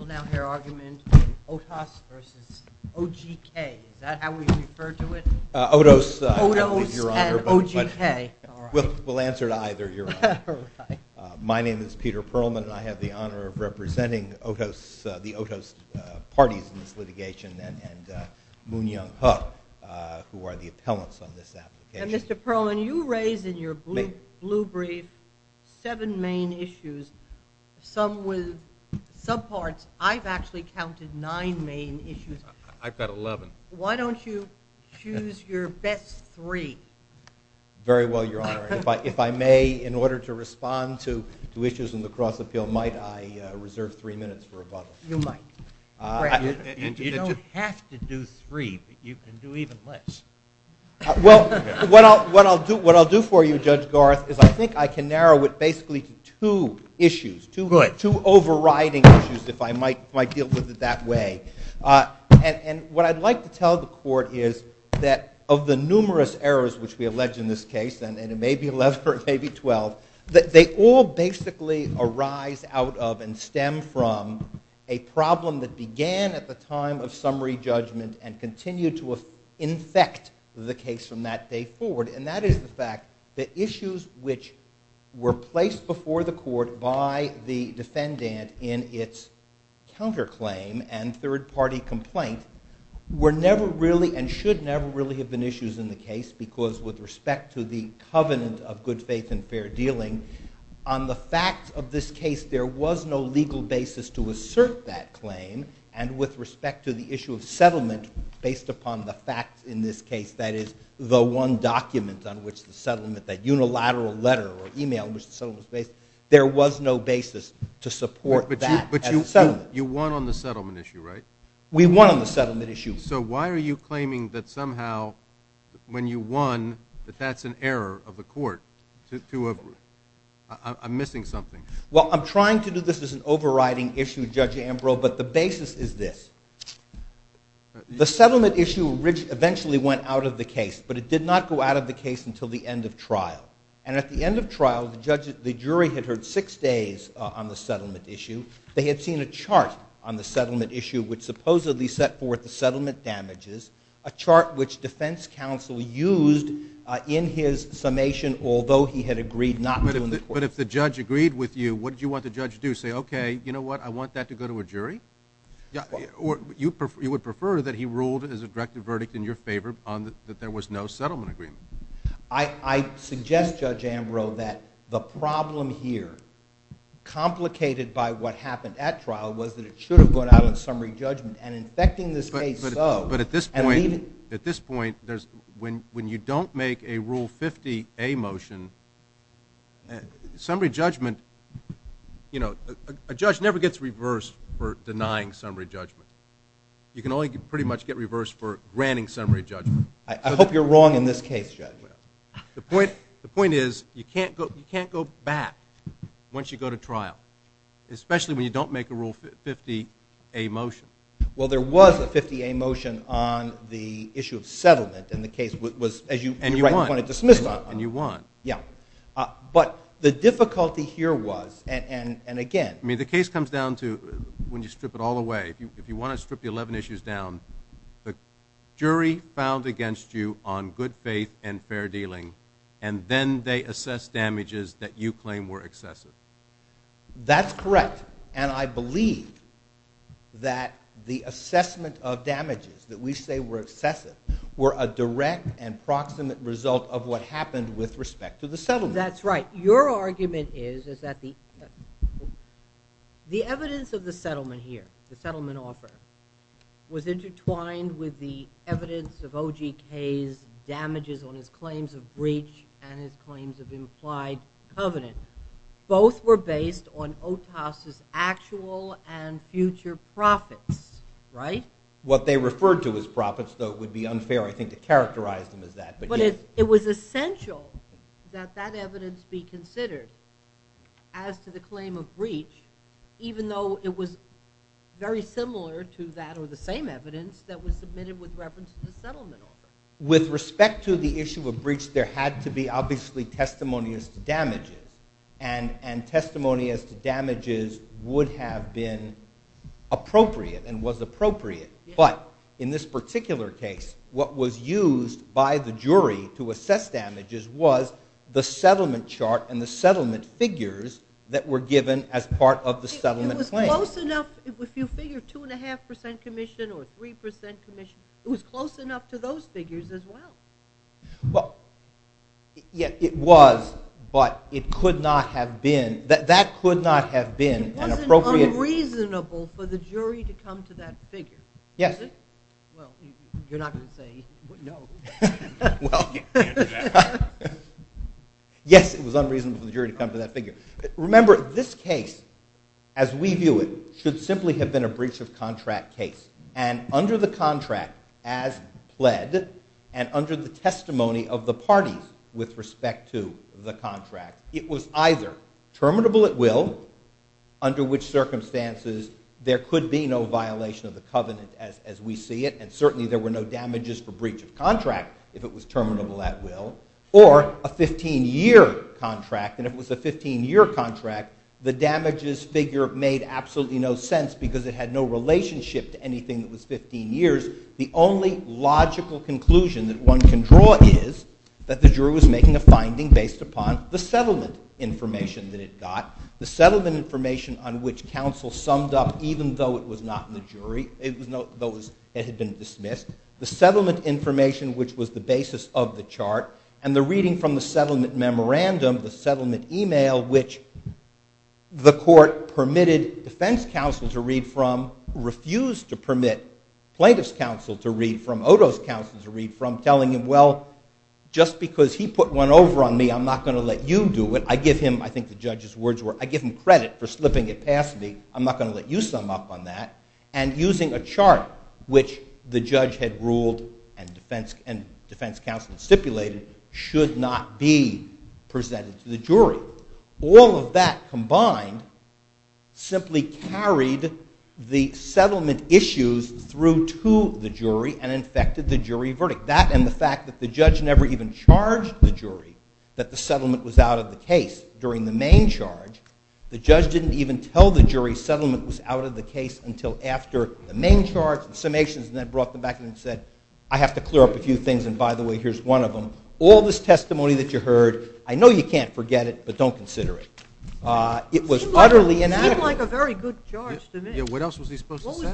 Mr. Perlman, I have the honor of representing the Otos parties in this litigation and Moon Young-Huk, who are the appellants on this application. Mr. Perlman, you raise in your blue brief seven main issues, some with subparts. I've actually counted nine main issues. I've got 11. Why don't you choose your best three? Very well, Your Honor. If I may, in order to respond to issues in the cross-appeal, might I reserve three minutes for rebuttal? You might. You don't have to do three, but you can do even less. Well, what I'll do for you, Judge Garth, is I think I can narrow it basically to two issues, two overriding issues, if I might deal with it that way. And what I'd like to tell the court is that of the numerous errors which we allege in this case, and it may be 11 or it may be 12, they all basically arise out of and stem from a problem that set the case from that day forward. And that is the fact that issues which were placed before the court by the defendant in its counterclaim and third-party complaint were never really and should never really have been issues in the case, because with respect to the covenant of good faith and fair dealing, on the fact of this case there was no legal basis to assert that claim, and with respect to the issue of settlement based upon the fact in this case that is the one document on which the settlement, that unilateral letter or email in which the settlement was based, there was no basis to support that as a settlement. But you won on the settlement issue, right? We won on the settlement issue. So why are you claiming that somehow when you won that that's an error of the court to, I'm missing something. Well, I'm trying to do this as an overriding issue, Judge Ambrose, but the basis is this. The settlement issue eventually went out of the case, but it did not go out of the case until the end of trial. And at the end of trial, the jury had heard six days on the settlement issue. They had seen a chart on the settlement issue which supposedly set forth the settlement damages, a chart which defense counsel used in his summation, although he had agreed not to in the court. But if the judge agreed with you, what did you want the judge to do? Say, okay, you know what, I want that to go to a jury? Or you would prefer that he ruled as a directive verdict in your favor on that there was no settlement agreement? I suggest, Judge Ambrose, that the problem here, complicated by what happened at trial, was that it should have gone out on summary judgment, and in effecting this case so. But at this point, when you don't make a Rule 50A motion, summary judgment, you know, a judge never gets reversed for denying summary judgment. You can only pretty much get reversed for granting summary judgment. I hope you're wrong in this case, Judge. The point is, you can't go back once you go to trial, especially when you don't make a Rule 50A motion. Well, there was a 50A motion on the issue of settlement, and the case was, as you're right, you want it dismissed on it. And you want. Yeah. But the difficulty here was, and again... I mean, the case comes down to, when you strip it all away, if you want to strip the 11 issues down, the jury found against you on good faith and fair dealing, and then they assess damages that you claim were excessive. That's correct. And I believe that the assessment of damages that we say were excessive were a direct and proximate result of what happened with respect to the settlement. That's right. Your argument is, is that the evidence of the settlement here, the settlement offer, was intertwined with the evidence of OGK's damages on his claims of breach and his claims of implied covenant. Both were based on Otas' actual and future profits, right? What they referred to as profits, though, would be unfair, I think, to characterize them as that, but yes. It was essential that that evidence be considered as to the claim of breach, even though it was very similar to that or the same evidence that was submitted with reference to the settlement offer. With respect to the issue of breach, there had to be, obviously, testimony as to damages, and testimony as to damages would have been appropriate and was appropriate, but in this particular case, what was used by the jury to assess damages was the settlement chart and the settlement figures that were given as part of the settlement claim. It was close enough, if you figure 2.5% commission or 3% commission, it was close enough to those figures as well. Well, yeah, it was, but it could not have been, that could not have been an appropriate It wasn't unreasonable for the jury to come to that figure, was it? Well, you're not going to say no. Well, yes, it was unreasonable for the jury to come to that figure. Remember, this case, as we view it, should simply have been a breach of contract case, and under the contract as pled, and under the testimony of the parties with respect to the contract, it was either terminable at will, under which circumstances there could be no violation of the covenant as we see it, and certainly there were no damages for breach of contract if it was terminable at will, or a 15-year contract, and if it was a 15-year contract, the damages figure made absolutely no sense because it had no relationship to anything that was 15 years. The only logical conclusion that one can draw is that the jury was making a finding based upon the settlement information that it got, the settlement information on which counsel summed up even though it was not in the jury, even though it had been dismissed, the settlement information which was the basis of the chart, and the reading from the settlement memorandum, the settlement email which the court permitted defense counsel to read from, refused to permit plaintiff's counsel to read from, Odo's counsel to read from, telling him, well, just because he put one over on me, I'm not going to let you do it. I give him, I think the judge's words were, I give him credit for slipping it past me. I'm not going to let you sum up on that, and using a chart which the judge had ruled and defense counsel stipulated should not be presented to the jury. All of that combined simply carried the settlement issues through to the jury and infected the jury verdict. That and the fact that the judge never even charged the jury that the settlement was out of the case during the main charge. The judge didn't even tell the jury settlement was out of the case until after the main charge and summations, and then brought them back and said, I have to clear up a few things and by the way, here's one of them. All this testimony that you heard, I know you can't forget it, but don't consider it. It was utterly inadequate. It seemed like a very good charge to me. What else was he supposed to say?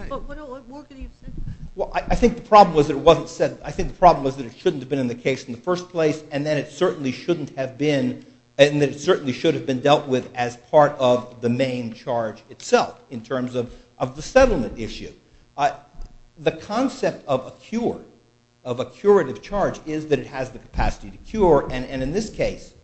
I think the problem was that it shouldn't have been in the case in the first place, and then it certainly shouldn't have been, and it certainly should have been dealt with as part of the main charge itself in terms of the settlement issue. The concept of a cure, of a curative charge, is that it has the capacity to cure, and in this case,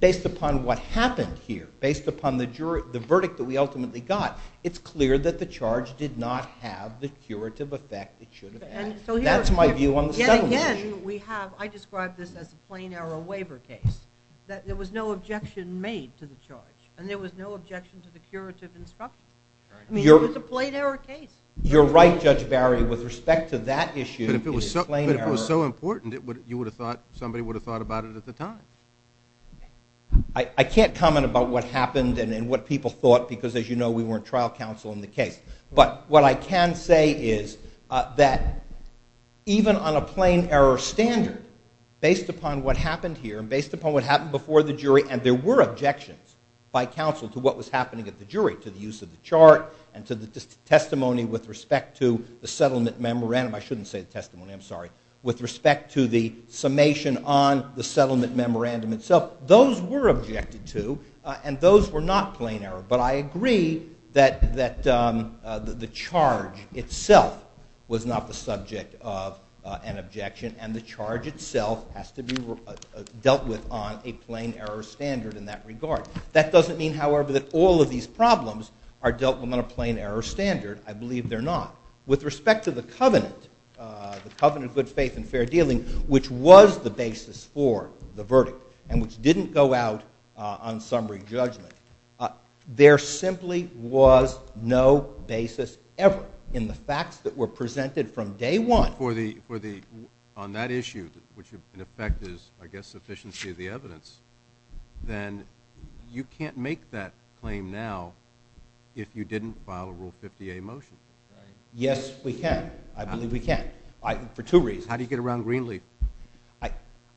based upon what happened here, based upon the verdict that we ultimately got, it's clear that the charge did not have the curative effect it should have had. That's my view on the settlement issue. Yet again, we have, I describe this as a plain error waiver case, that there was no objection made to the charge, and there was no objection to the curative instruction. I mean, it was a plain error case. You're right, Judge Barry, with respect to that issue, it's a plain error. But if it was so important, you would have thought, somebody would have thought about it at the time. I can't comment about what happened and what people thought, because as you know, we weren't trial counsel in the case. But what I can say is that even on a plain error standard, based upon what happened here, based upon what happened before the jury, and there were objections by counsel to what was in the chart, and to the testimony with respect to the settlement memorandum, I shouldn't say the testimony, I'm sorry, with respect to the summation on the settlement memorandum itself, those were objected to, and those were not plain error. But I agree that the charge itself was not the subject of an objection, and the charge itself has to be dealt with on a plain error standard in that regard. That doesn't mean, however, that all of these problems are dealt with on a plain error standard. I believe they're not. With respect to the covenant, the covenant of good faith and fair dealing, which was the basis for the verdict, and which didn't go out on summary judgment, there simply was no basis ever in the facts that were presented from day one. Well, on that issue, which in effect is, I guess, sufficiency of the evidence, then you can't make that claim now if you didn't file a Rule 50A motion. Yes, we can. I believe we can. For two reasons. How do you get around Greenleaf?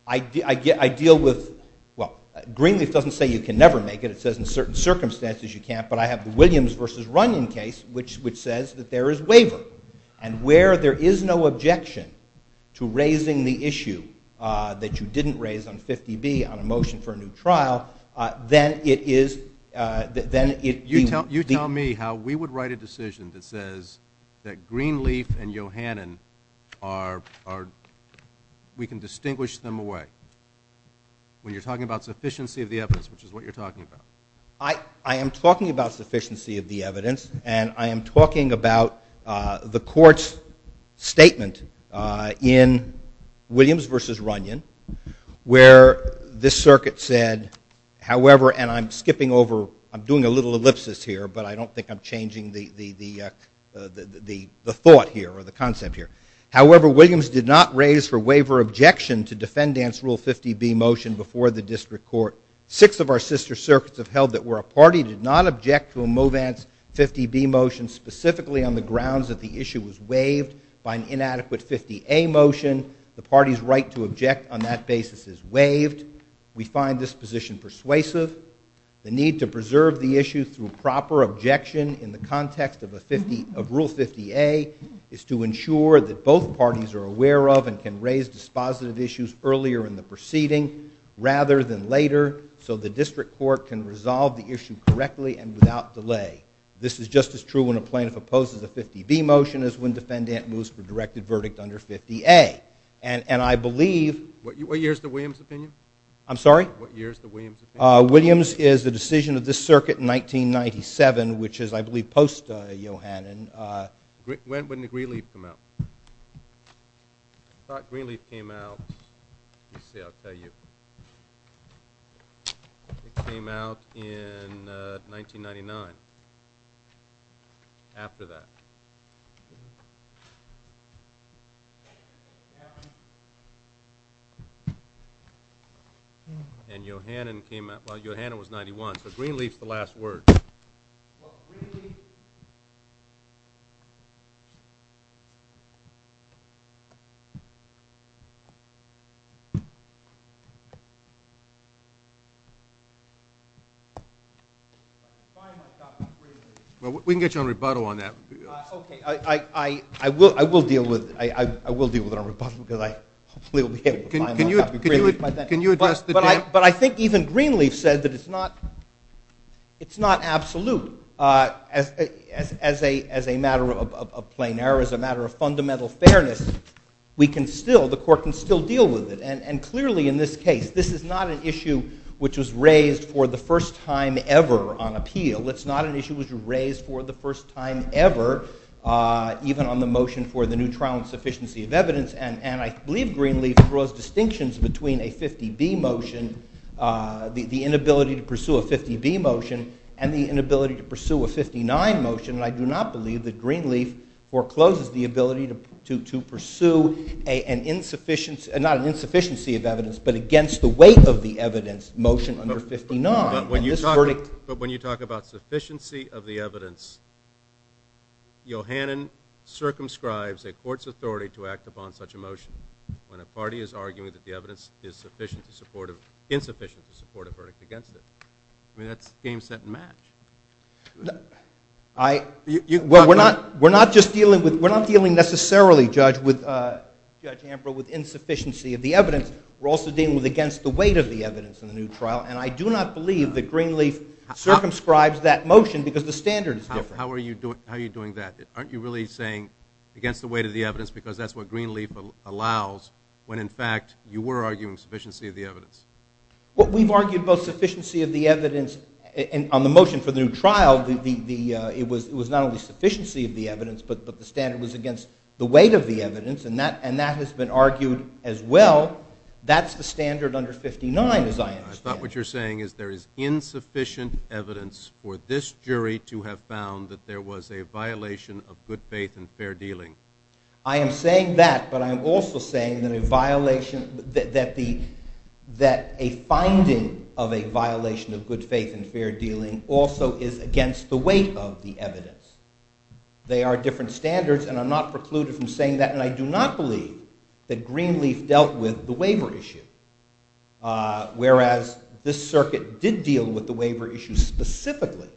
I deal with, well, Greenleaf doesn't say you can never make it, it says in certain circumstances you can't, but I have the Williams versus Runyon case, which says that there is waiver, and where there is no objection to raising the issue that you didn't raise on 50B on a motion for a new trial, then it is, then it, you tell me how we would write a decision that says that Greenleaf and Yohannan are, we can distinguish them away when you're talking about sufficiency of the evidence, which is what you're talking about. I am talking about sufficiency of the evidence, and I am talking about the court's statement in Williams versus Runyon, where this circuit said, however, and I'm skipping over, I'm doing a little ellipsis here, but I don't think I'm changing the thought here, or the concept here. However, Williams did not raise for waiver objection to defendant's Rule 50B motion before the district court. Six of our sister circuits have held that where a party did not object to a MoVance 50B motion specifically on the grounds that the issue was waived by an inadequate 50A motion, the party's right to object on that basis is waived. We find this position persuasive. The need to preserve the issue through proper objection in the context of Rule 50A is to ensure that both parties are aware of and can raise dispositive issues earlier in the proceeding rather than later, so the district court can resolve the issue correctly and without delay. This is just as true when a plaintiff opposes a 50B motion as when defendant moves for directed verdict under 50A. And I believe— What year is the Williams opinion? I'm sorry? What year is the Williams opinion? Williams is the decision of this circuit in 1997, which is, I believe, post-Yohannan. When did Greenleaf come out? I thought Greenleaf came out—let's see, I'll tell you. It came out in 1999, after that. And Yohannan came out—well, Yohannan was 91, so Greenleaf's the last word. Well, Greenleaf— Well, we can get you on rebuttal on that. Okay, I will deal with it. I will deal with it on rebuttal because I hopefully will be able to find my copy of Greenleaf by then. Can you address the dam— But I think even Greenleaf said that it's not absolute. As a matter of plain error, as a matter of fundamental fairness, we can still—the court can still deal with it. And clearly, in this case, this is not an issue which was raised for the first time ever on appeal. It's not an issue which was raised for the first time ever, even on the motion for the new trial on sufficiency of evidence. And I believe Greenleaf draws distinctions between a 50B motion, the inability to pursue a 50B motion, and the inability to pursue a 59 motion. And I do not believe that Greenleaf forecloses the ability to pursue an insufficiency—not an insufficiency of evidence, but against the weight of the evidence motion under 59. But when you talk about sufficiency of the evidence, Yohannan circumscribes a court's authority to act upon such a motion when a party is arguing that the evidence is insufficient to support a verdict against it. I mean, that's game, set, and match. I— Well, we're not just dealing with—we're not dealing necessarily, Judge Ambrose, with insufficiency of the evidence. We're also dealing with against the weight of the evidence in the new trial. And I do not believe that Greenleaf circumscribes that motion because the standard is different. How are you doing that? Aren't you really saying against the weight of the evidence because that's what Greenleaf allows when, in fact, you were arguing sufficiency of the evidence? Well, we've argued both sufficiency of the evidence on the motion for the new trial. It was not only sufficiency of the evidence, but the standard was against the weight of the evidence. And that has been argued as well. That's the standard under 59, as I understand it. I thought what you're saying is there is insufficient evidence for this jury to have found that there was a violation of good faith and fair dealing. I am saying that, but I'm also saying that a violation—that a finding of a violation of good faith and fair dealing also is against the weight of the evidence. They are different standards, and I'm not precluded from saying that. And I do not believe that Greenleaf dealt with the waiver issue, whereas this circuit did deal with the waiver issue specifically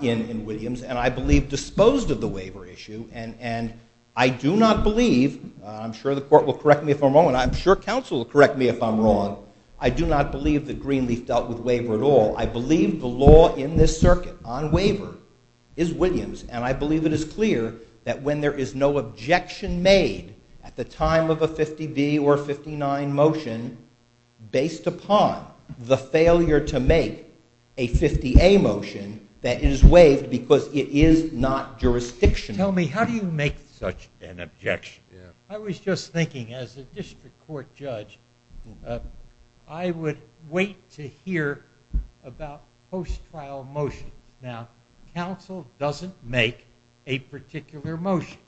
in Williams, and I believe disposed of the waiver issue. And I do not believe—I'm sure the court will correct me if I'm wrong, and I'm sure counsel will correct me if I'm wrong—I do not believe that Greenleaf dealt with waiver at all. I believe the law in this circuit on waiver is Williams, and I believe it is clear that when there is no objection made at the time of a 50B or a 59 motion, based upon the failure to make a 50A motion, that it is waived because it is not jurisdictional. Tell me, how do you make such an objection? I was just thinking, as a district court judge, I would wait to hear about post-trial motions. Now, counsel doesn't make a particular motion.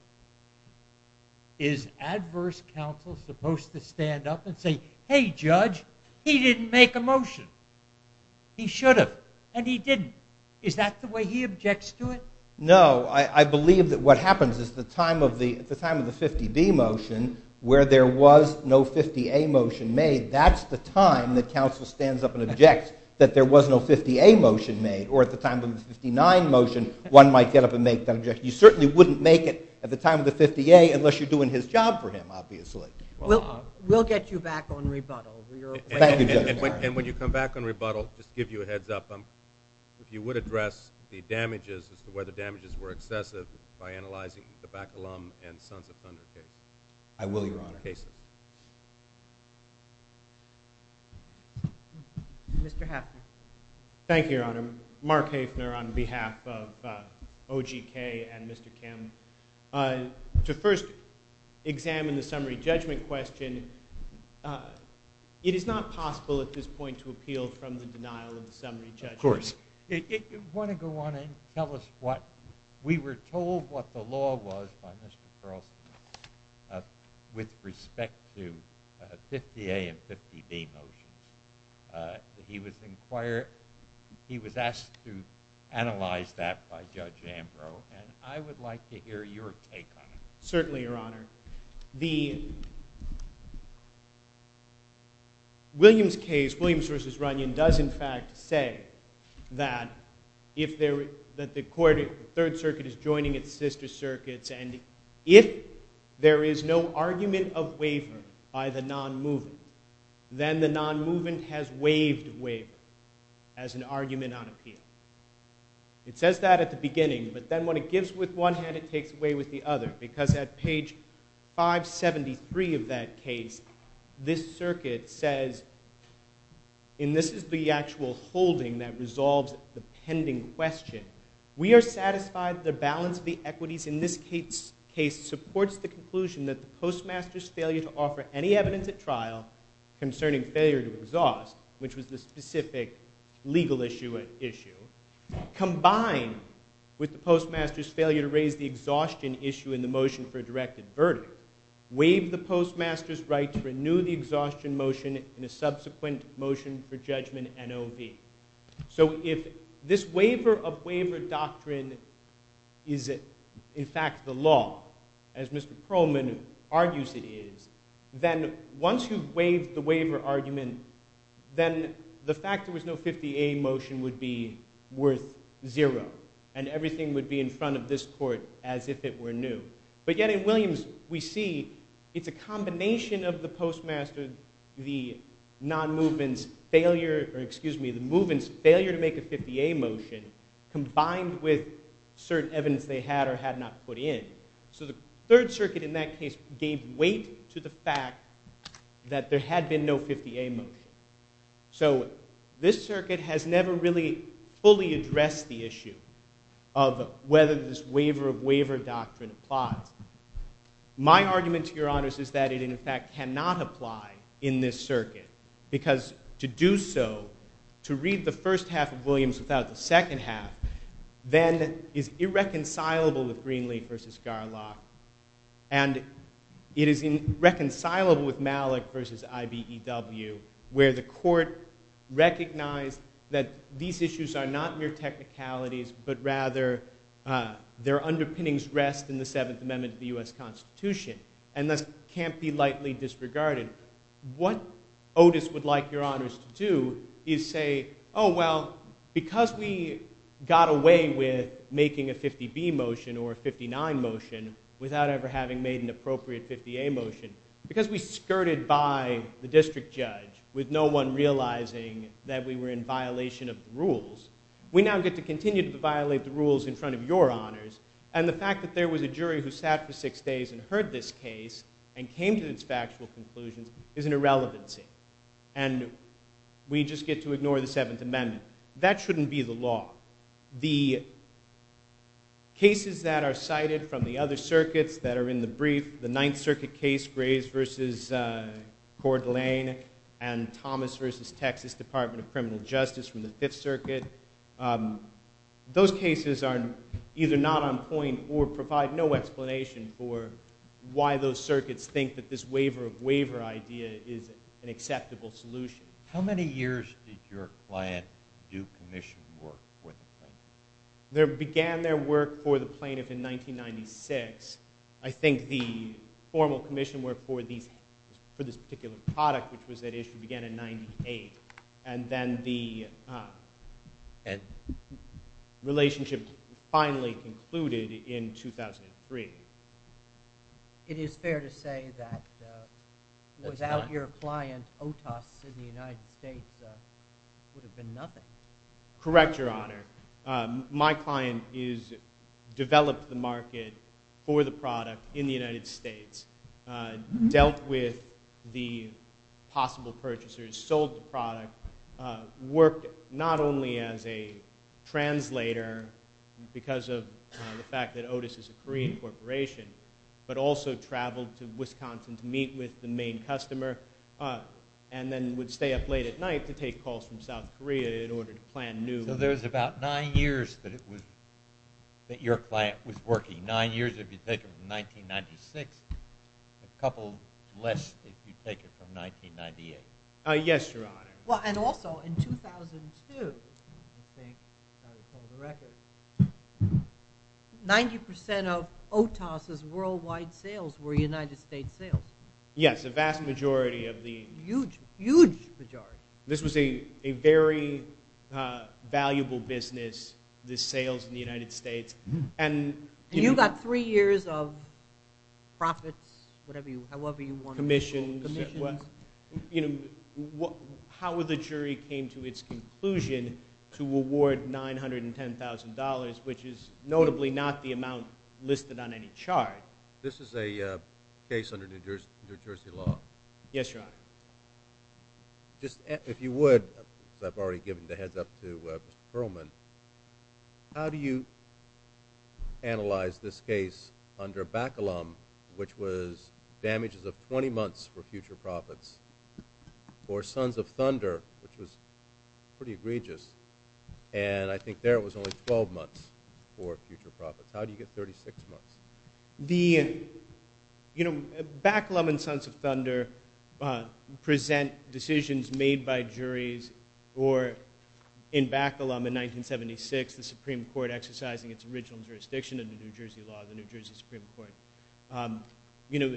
Is adverse counsel supposed to stand up and say, hey, judge, he didn't make a motion. He should have, and he didn't. Is that the way he objects to it? No. I believe that what happens is the time of the 50B motion, where there was no 50A motion made, that's the time that counsel stands up and objects that there was no 50A motion made. Or at the time of the 59 motion, one might get up and make that objection. You certainly wouldn't make it at the time of the 50A unless you're doing his job for him, obviously. We'll get you back on rebuttal. Thank you, Judge. And when you come back on rebuttal, just to give you a heads up, if you would address the damages as to where the damages were excessive by analyzing the Bacalum and Sons of Thunder I will, Your Honor. Mr. Haffner. Thank you, Your Honor. Mark Haffner on behalf of OGK and Mr. Kim. To first examine the summary judgment question, it is not possible at this point to appeal from the denial of the summary judgment. Of course. If you want to go on and tell us what, we were told what the law was by Mr. Carlson with respect to 50A and 50B motions. He was inquired, he was asked to analyze that by Judge Ambrose. And I would like to hear your take on it. Certainly, Your Honor. The Williams case, Williams v. Runyon, does in fact say that if there, that the third circuit is joining its sister circuits and if there is no argument of waiver by the non-mover, then the non-mover has waived waiver as an argument on appeal. It says that at the beginning, but then when it gives with one hand, it takes away with the other because at page 573 of that case, this circuit says, and this is the actual holding that resolves the pending question, we are satisfied the balance of the equities in this case supports the conclusion that the postmaster's failure to offer any evidence at trial concerning failure to exhaust, which was the specific legal issue, combined with the postmaster's failure to raise the exhaustion issue in the motion for a directed verdict, waived the postmaster's right to renew the exhaustion motion in a subsequent motion for judgment NOV. So if this waiver of waiver doctrine is in fact the law, as Mr. Perlman argues it is, then once you've waived the waiver argument, then the fact there was no 50A motion would be worth zero and everything would be in front of this court as if it were new. But yet in Williams, we see it's a combination of the postmaster, the non-movement's failure or excuse me, the movement's failure to make a 50A motion combined with certain evidence they had or had not put in. So the Third Circuit in that case gave weight to the fact that there had been no 50A motion. So this circuit has never really fully addressed the issue of whether this waiver of waiver doctrine applies. My argument to your honors is that it in fact cannot apply in this circuit because to do so, to read the first half of Williams without the second half, then is irreconcilable with our law. And it is irreconcilable with Malik versus IBEW where the court recognized that these issues are not mere technicalities but rather their underpinnings rest in the Seventh Amendment to the U.S. Constitution. And thus can't be lightly disregarded. What Otis would like your honors to do is say, oh, well, because we got away with making a 50B motion or a 59 motion without ever having made an appropriate 50A motion, because we skirted by the district judge with no one realizing that we were in violation of the rules, we now get to continue to violate the rules in front of your honors. And the fact that there was a jury who sat for six days and heard this case and came to its factual conclusions is an irrelevancy. And we just get to ignore the Seventh Amendment. That shouldn't be the law. The cases that are cited from the other circuits that are in the brief, the Ninth Circuit case, Graves versus Coeur d'Alene and Thomas versus Texas Department of Criminal Justice from the Fifth Circuit, those cases are either not on point or provide no explanation for why those circuits think that this waiver of waiver idea is an acceptable solution. How many years did your client do commission work for the plaintiff? There began their work for the plaintiff in 1996. I think the formal commission work for this particular product, which was at issue, began in 1998. And then the relationship finally concluded in 2003. It is fair to say that without your client, Otis in the United States would have been nothing. Correct, Your Honor. My client developed the market for the product in the United States, dealt with the possible purchasers, sold the product, worked not only as a translator because of the fact that Otis is a Korean corporation, but also traveled to Wisconsin to meet with the main customer and then would stay up late at night to take calls from South Korea in order to plan new So there's about nine years that your client was working. Nine years if you take it from 1996. A couple less if you take it from 1998. Yes, Your Honor. Well, and also in 2002, I think, if I recall the record, 90% of Otis' worldwide sales were United States sales. Yes, a vast majority of the... Huge, huge majority. This was a very valuable business, the sales in the United States. And you got three years of profits, however you want to call it. Commission. Commission. How would the jury came to its conclusion to award $910,000, which is notably not the amount listed on any chart? This is a case under New Jersey law. Yes, Your Honor. If you would, because I've already given the heads up to Mr. Perlman, how do you analyze this case under Bacalum, which was damages of 20 months for future profits, for Sons of Thunder, which was pretty egregious, and I think there it was only 12 months for future profits. How do you get 36 months? The, you know, Bacalum and Sons of Thunder present decisions made by juries or in Bacalum in 1976, the Supreme Court exercising its original jurisdiction under New Jersey law, the New Jersey Supreme Court. You know,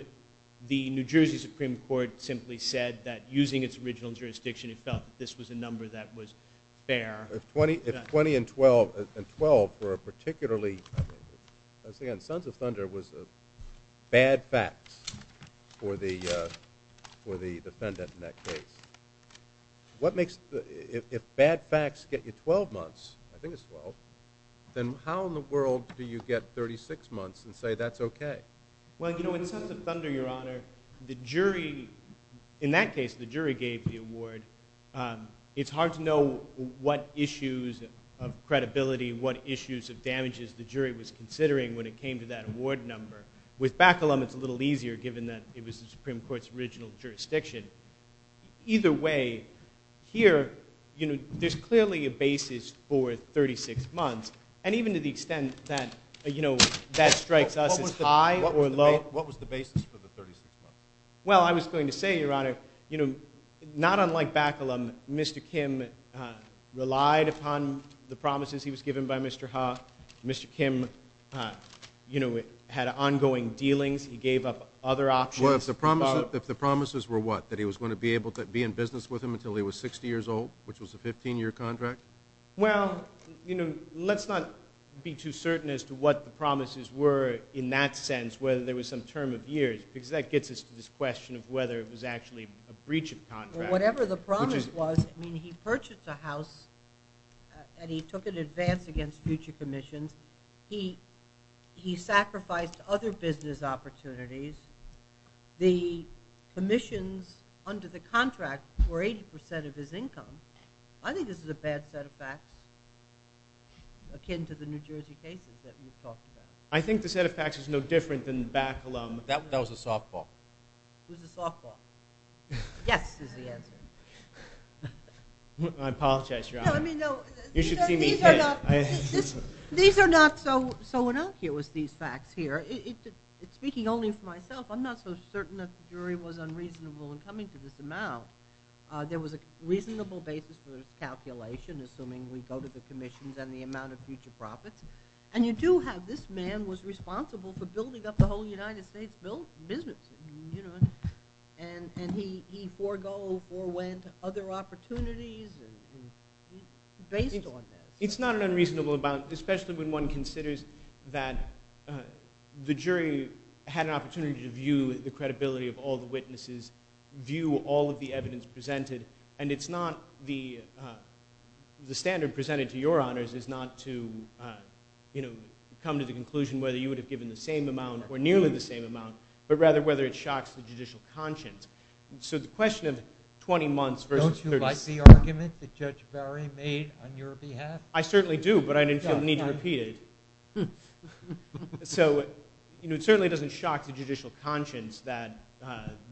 the New Jersey Supreme Court simply said that using its original jurisdiction it felt this was a number that was fair. If 20 and 12 were particularly... Again, Sons of Thunder was bad facts for the defendant in that case. What makes, if bad facts get you 12 months, I think it's 12, then how in the world do you get 36 months and say that's okay? Well, you know, in Sons of Thunder, Your Honor, the jury, in that case the jury gave the award. It's hard to know what issues of credibility, what issues of damages the jury was considering when it came to that award number. With Bacalum it's a little easier given that it was the Supreme Court's original jurisdiction. Either way, here, you know, there's clearly a basis for 36 months. And even to the extent that, you know, that strikes us as high or low. What was the basis for the 36 months? Well, I was going to say, Your Honor, you know, not unlike Bacalum, Mr. Kim relied upon the promises he was given by Mr. Ha. Mr. Kim, you know, had ongoing dealings. He gave up other options. Well, if the promises were what? That he was going to be able to be in business with him until he was 60 years old, which was a 15-year contract? Well, you know, let's not be too certain as to what the promises were in that sense, whether there was some term of years, because that gets us to this question of whether it was actually a breach of contract. Well, whatever the promise was, I mean, he purchased a house and he took it in advance against future commissions. And he sacrificed other business opportunities. The commissions under the contract were 80% of his income. I think this is a bad set of facts akin to the New Jersey cases that we've talked about. I think the set of facts is no different than Bacalum. That was a softball. It was a softball. Yes is the answer. I apologize, Your Honor. You should see me hit. These are not so innocuous, these facts here. Speaking only for myself, I'm not so certain that the jury was unreasonable in coming to this amount. There was a reasonable basis for this calculation, assuming we go to the commissions and the amount of future profits. And you do have this man was responsible for building up the whole United States business. And he forewent other opportunities based on that. It's not an unreasonable amount, especially when one considers that the jury had an opportunity to view the credibility of all the witnesses, view all of the evidence presented. And it's not the standard presented to your honors is not to, you know, come to the conclusion whether you would have given the same amount or nearly the same amount, but rather whether it shocks the judicial conscience. So the question of 20 months versus 36. Don't you like the argument that Judge Barry made on your behalf? I certainly do, but I didn't feel the need to repeat it. So, you know, it certainly doesn't shock the judicial conscience that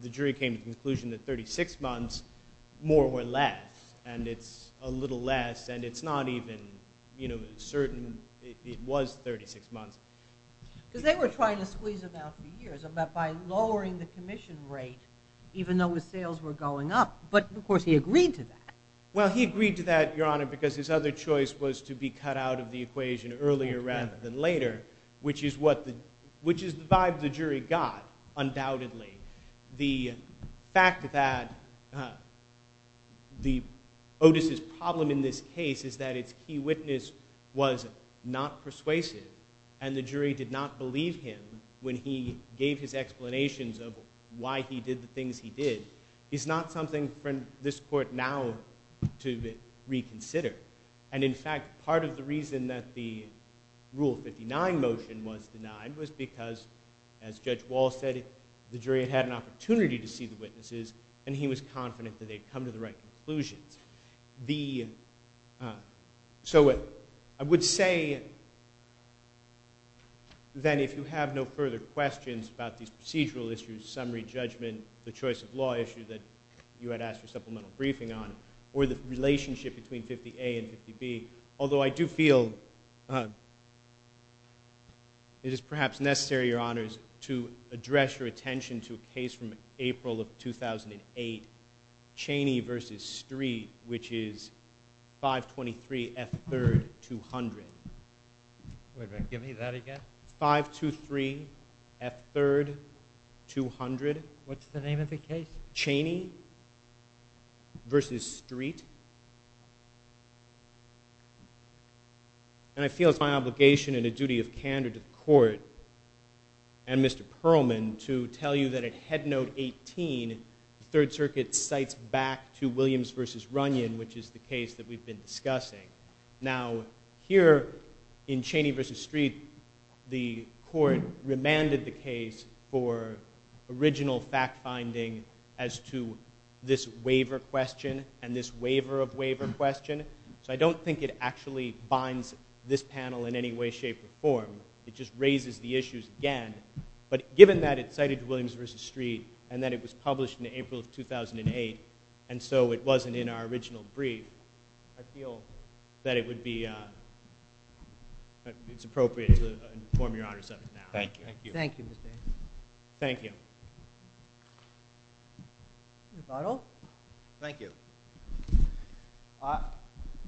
the jury came to the conclusion that 36 months, more or less, and it's a little less, and it's not even, you know, certain it was 36 months. Because they were trying to squeeze him out for years by lowering the commission rate even though his sales were going up. But, of course, he agreed to that. Well, he agreed to that, your honor, because his other choice was to be cut out of the equation earlier rather than later, which is the vibe the jury got, undoubtedly. The fact that Otis's problem in this case is that its key witness was not persuasive and the jury did not believe him when he gave his explanations of why he did the things he did is not something for this court now to reconsider. And, in fact, part of the reason that the Rule 59 motion was denied was because, as Judge Wall said, the jury had had an opportunity to see the witnesses and he was confident that they'd come to the right conclusions. So I would say that if you have no further questions about these procedural issues, summary judgment, the choice of law issue that you had asked for supplemental briefing on, or the relationship between 50A and 50B, although I do feel it is perhaps necessary, your honors, to address your attention to a case from April of 2008, Cheney v. Street, which is 523 F3rd 200. Wait a minute, give me that again. 523 F3rd 200. What's the name of the case? Cheney v. Street. And I feel it's my obligation and a duty of candor to the court and Mr. Perlman to tell you that at Head Note 18, the Third Circuit cites back to Williams v. Runyon, which is the case that we've been discussing. Now, here in Cheney v. Street, the court remanded the case for original fact-finding as to this waiver of waiver question. So I don't think it actually binds this panel in any way, shape, or form. It just raises the issues again. But given that it's cited to Williams v. Street, and that it was published in April of 2008, and so it wasn't in our original brief, I feel that it would be, it's appropriate to inform your honors of it now. Thank you. Thank you, Mr. Anderson. Thank you. Mr. Bartle. Thank you.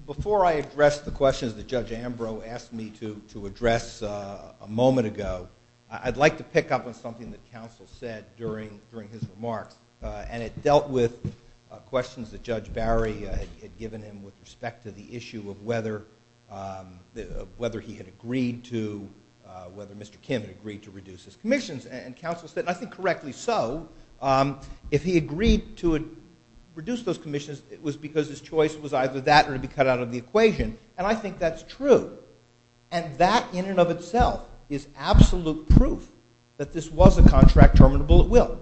Before I address the questions that Judge Ambrose asked me to address a moment ago, I'd like to pick up on something that counsel said during his remarks. And it dealt with questions that Judge Barry had given him with respect to the issue of whether he had agreed to, whether Mr. Kim had agreed to reduce his commissions. And counsel said, and I think correctly so, if he agreed to reduce those commissions, it was because his choice was either that or to be cut out of the equation. And I think that's true. And that in and of itself is absolute proof that this was a contract terminable at will.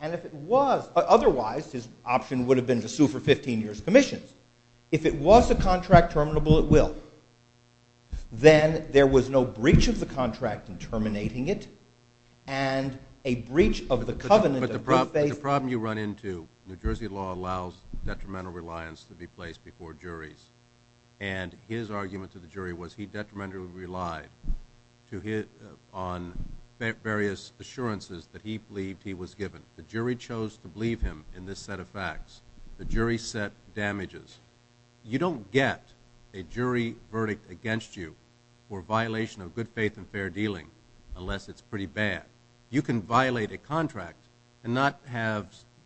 And if it was, otherwise his option would have been to sue for 15 years' commissions. If it was a contract terminable at will, then there was no breach of the contract in terminating it, and a breach of the covenant of good faith. The problem you run into, New Jersey law allows detrimental reliance to be placed before juries. And his argument to the jury was he detrimentally relied on various assurances that he believed he was given. The jury chose to believe him in this set of facts. The jury set damages. You don't get a jury verdict against you for violation of good faith and fair dealing unless it's pretty bad. You can violate a contract and not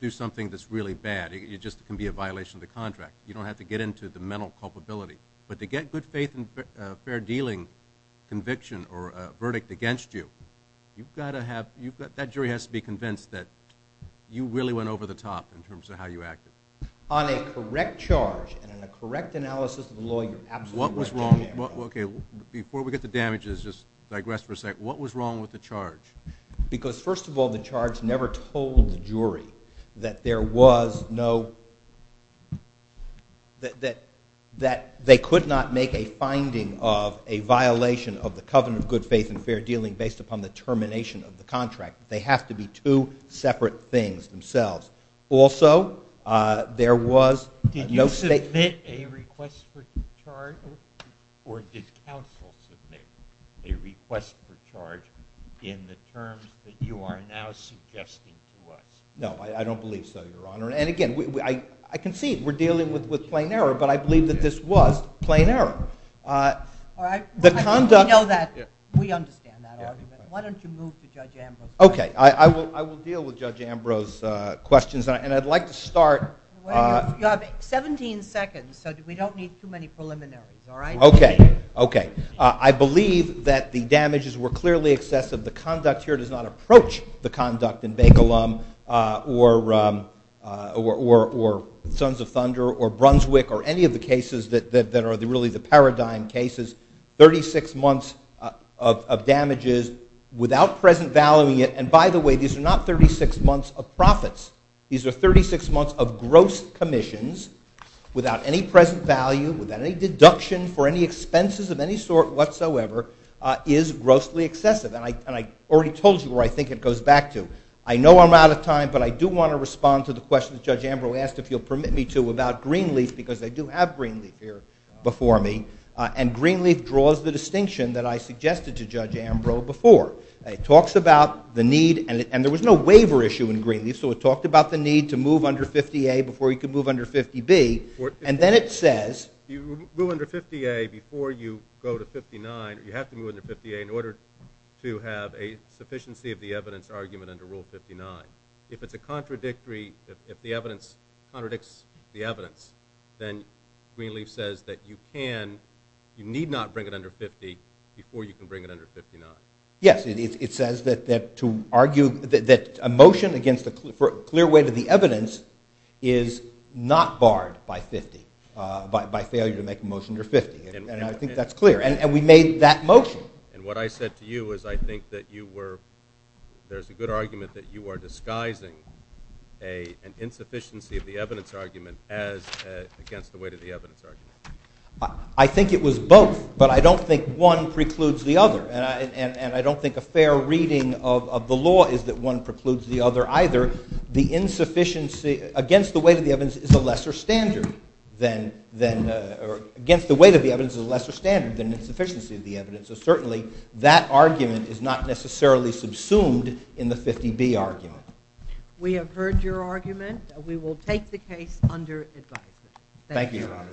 do something that's really bad. It just can be a violation of the contract. You don't have to get into the mental culpability. But to get good faith and fair dealing conviction or a verdict against you, that jury has to be convinced that you really went over the top in terms of how you acted. On a correct charge and in a correct analysis of the law, you're absolutely right. Okay. Before we get to damages, just digress for a second. What was wrong with the charge? Because, first of all, the charge never told the jury that there was no – that they could not make a finding of a violation of the covenant of good faith and fair dealing based upon the termination of the contract. They have to be two separate things themselves. Also, there was no – Did you submit a request for charge or did counsel submit a request for charge in the terms that you are now suggesting to us? No, I don't believe so, Your Honor. And, again, I concede we're dealing with plain error, but I believe that this was plain error. All right. The conduct – We know that. Why don't you move to Judge Ambrose's side? Okay. I will deal with Judge Ambrose's questions, and I'd like to start – You have 17 seconds, so we don't need too many preliminaries, all right? Okay. Okay. I believe that the damages were clearly excessive. The conduct here does not approach the conduct in Bakelum or Sons of Thunder or Brunswick or any of the cases that are really the paradigm cases. Thirty-six months of damages without present value yet. And, by the way, these are not 36 months of profits. These are 36 months of gross commissions without any present value, without any deduction for any expenses of any sort whatsoever is grossly excessive. And I already told you where I think it goes back to. I know I'm out of time, but I do want to respond to the question that Judge Ambrose asked, if you'll permit me to, about Greenleaf, because they do have Greenleaf here before me. And Greenleaf draws the distinction that I suggested to Judge Ambrose before. It talks about the need – and there was no waiver issue in Greenleaf, so it talked about the need to move under 50A before you could move under 50B. And then it says – You move under 50A before you go to 59. You have to move under 50A in order to have a sufficiency of the evidence argument under Rule 59. If it's a contradictory – if the evidence contradicts the evidence, then Greenleaf says that you can – you need not bring it under 50 before you can bring it under 59. Yes, it says that to argue that a motion against a clear way to the evidence is not barred by 50, by failure to make a motion under 50, and I think that's clear. And we made that motion. And what I said to you is I think that you were – there's a good argument that you are disguising an insufficiency of the evidence argument as against the way to the evidence argument. I think it was both, but I don't think one precludes the other. And I don't think a fair reading of the law is that one precludes the other either. The insufficiency against the way to the evidence is a lesser standard than – against the way to the evidence is a lesser standard than insufficiency of the evidence. So certainly that argument is not necessarily subsumed in the 50B argument. We have heard your argument. We will take the case under advisement. Thank you, Your Honor. Thank you, Your Honor.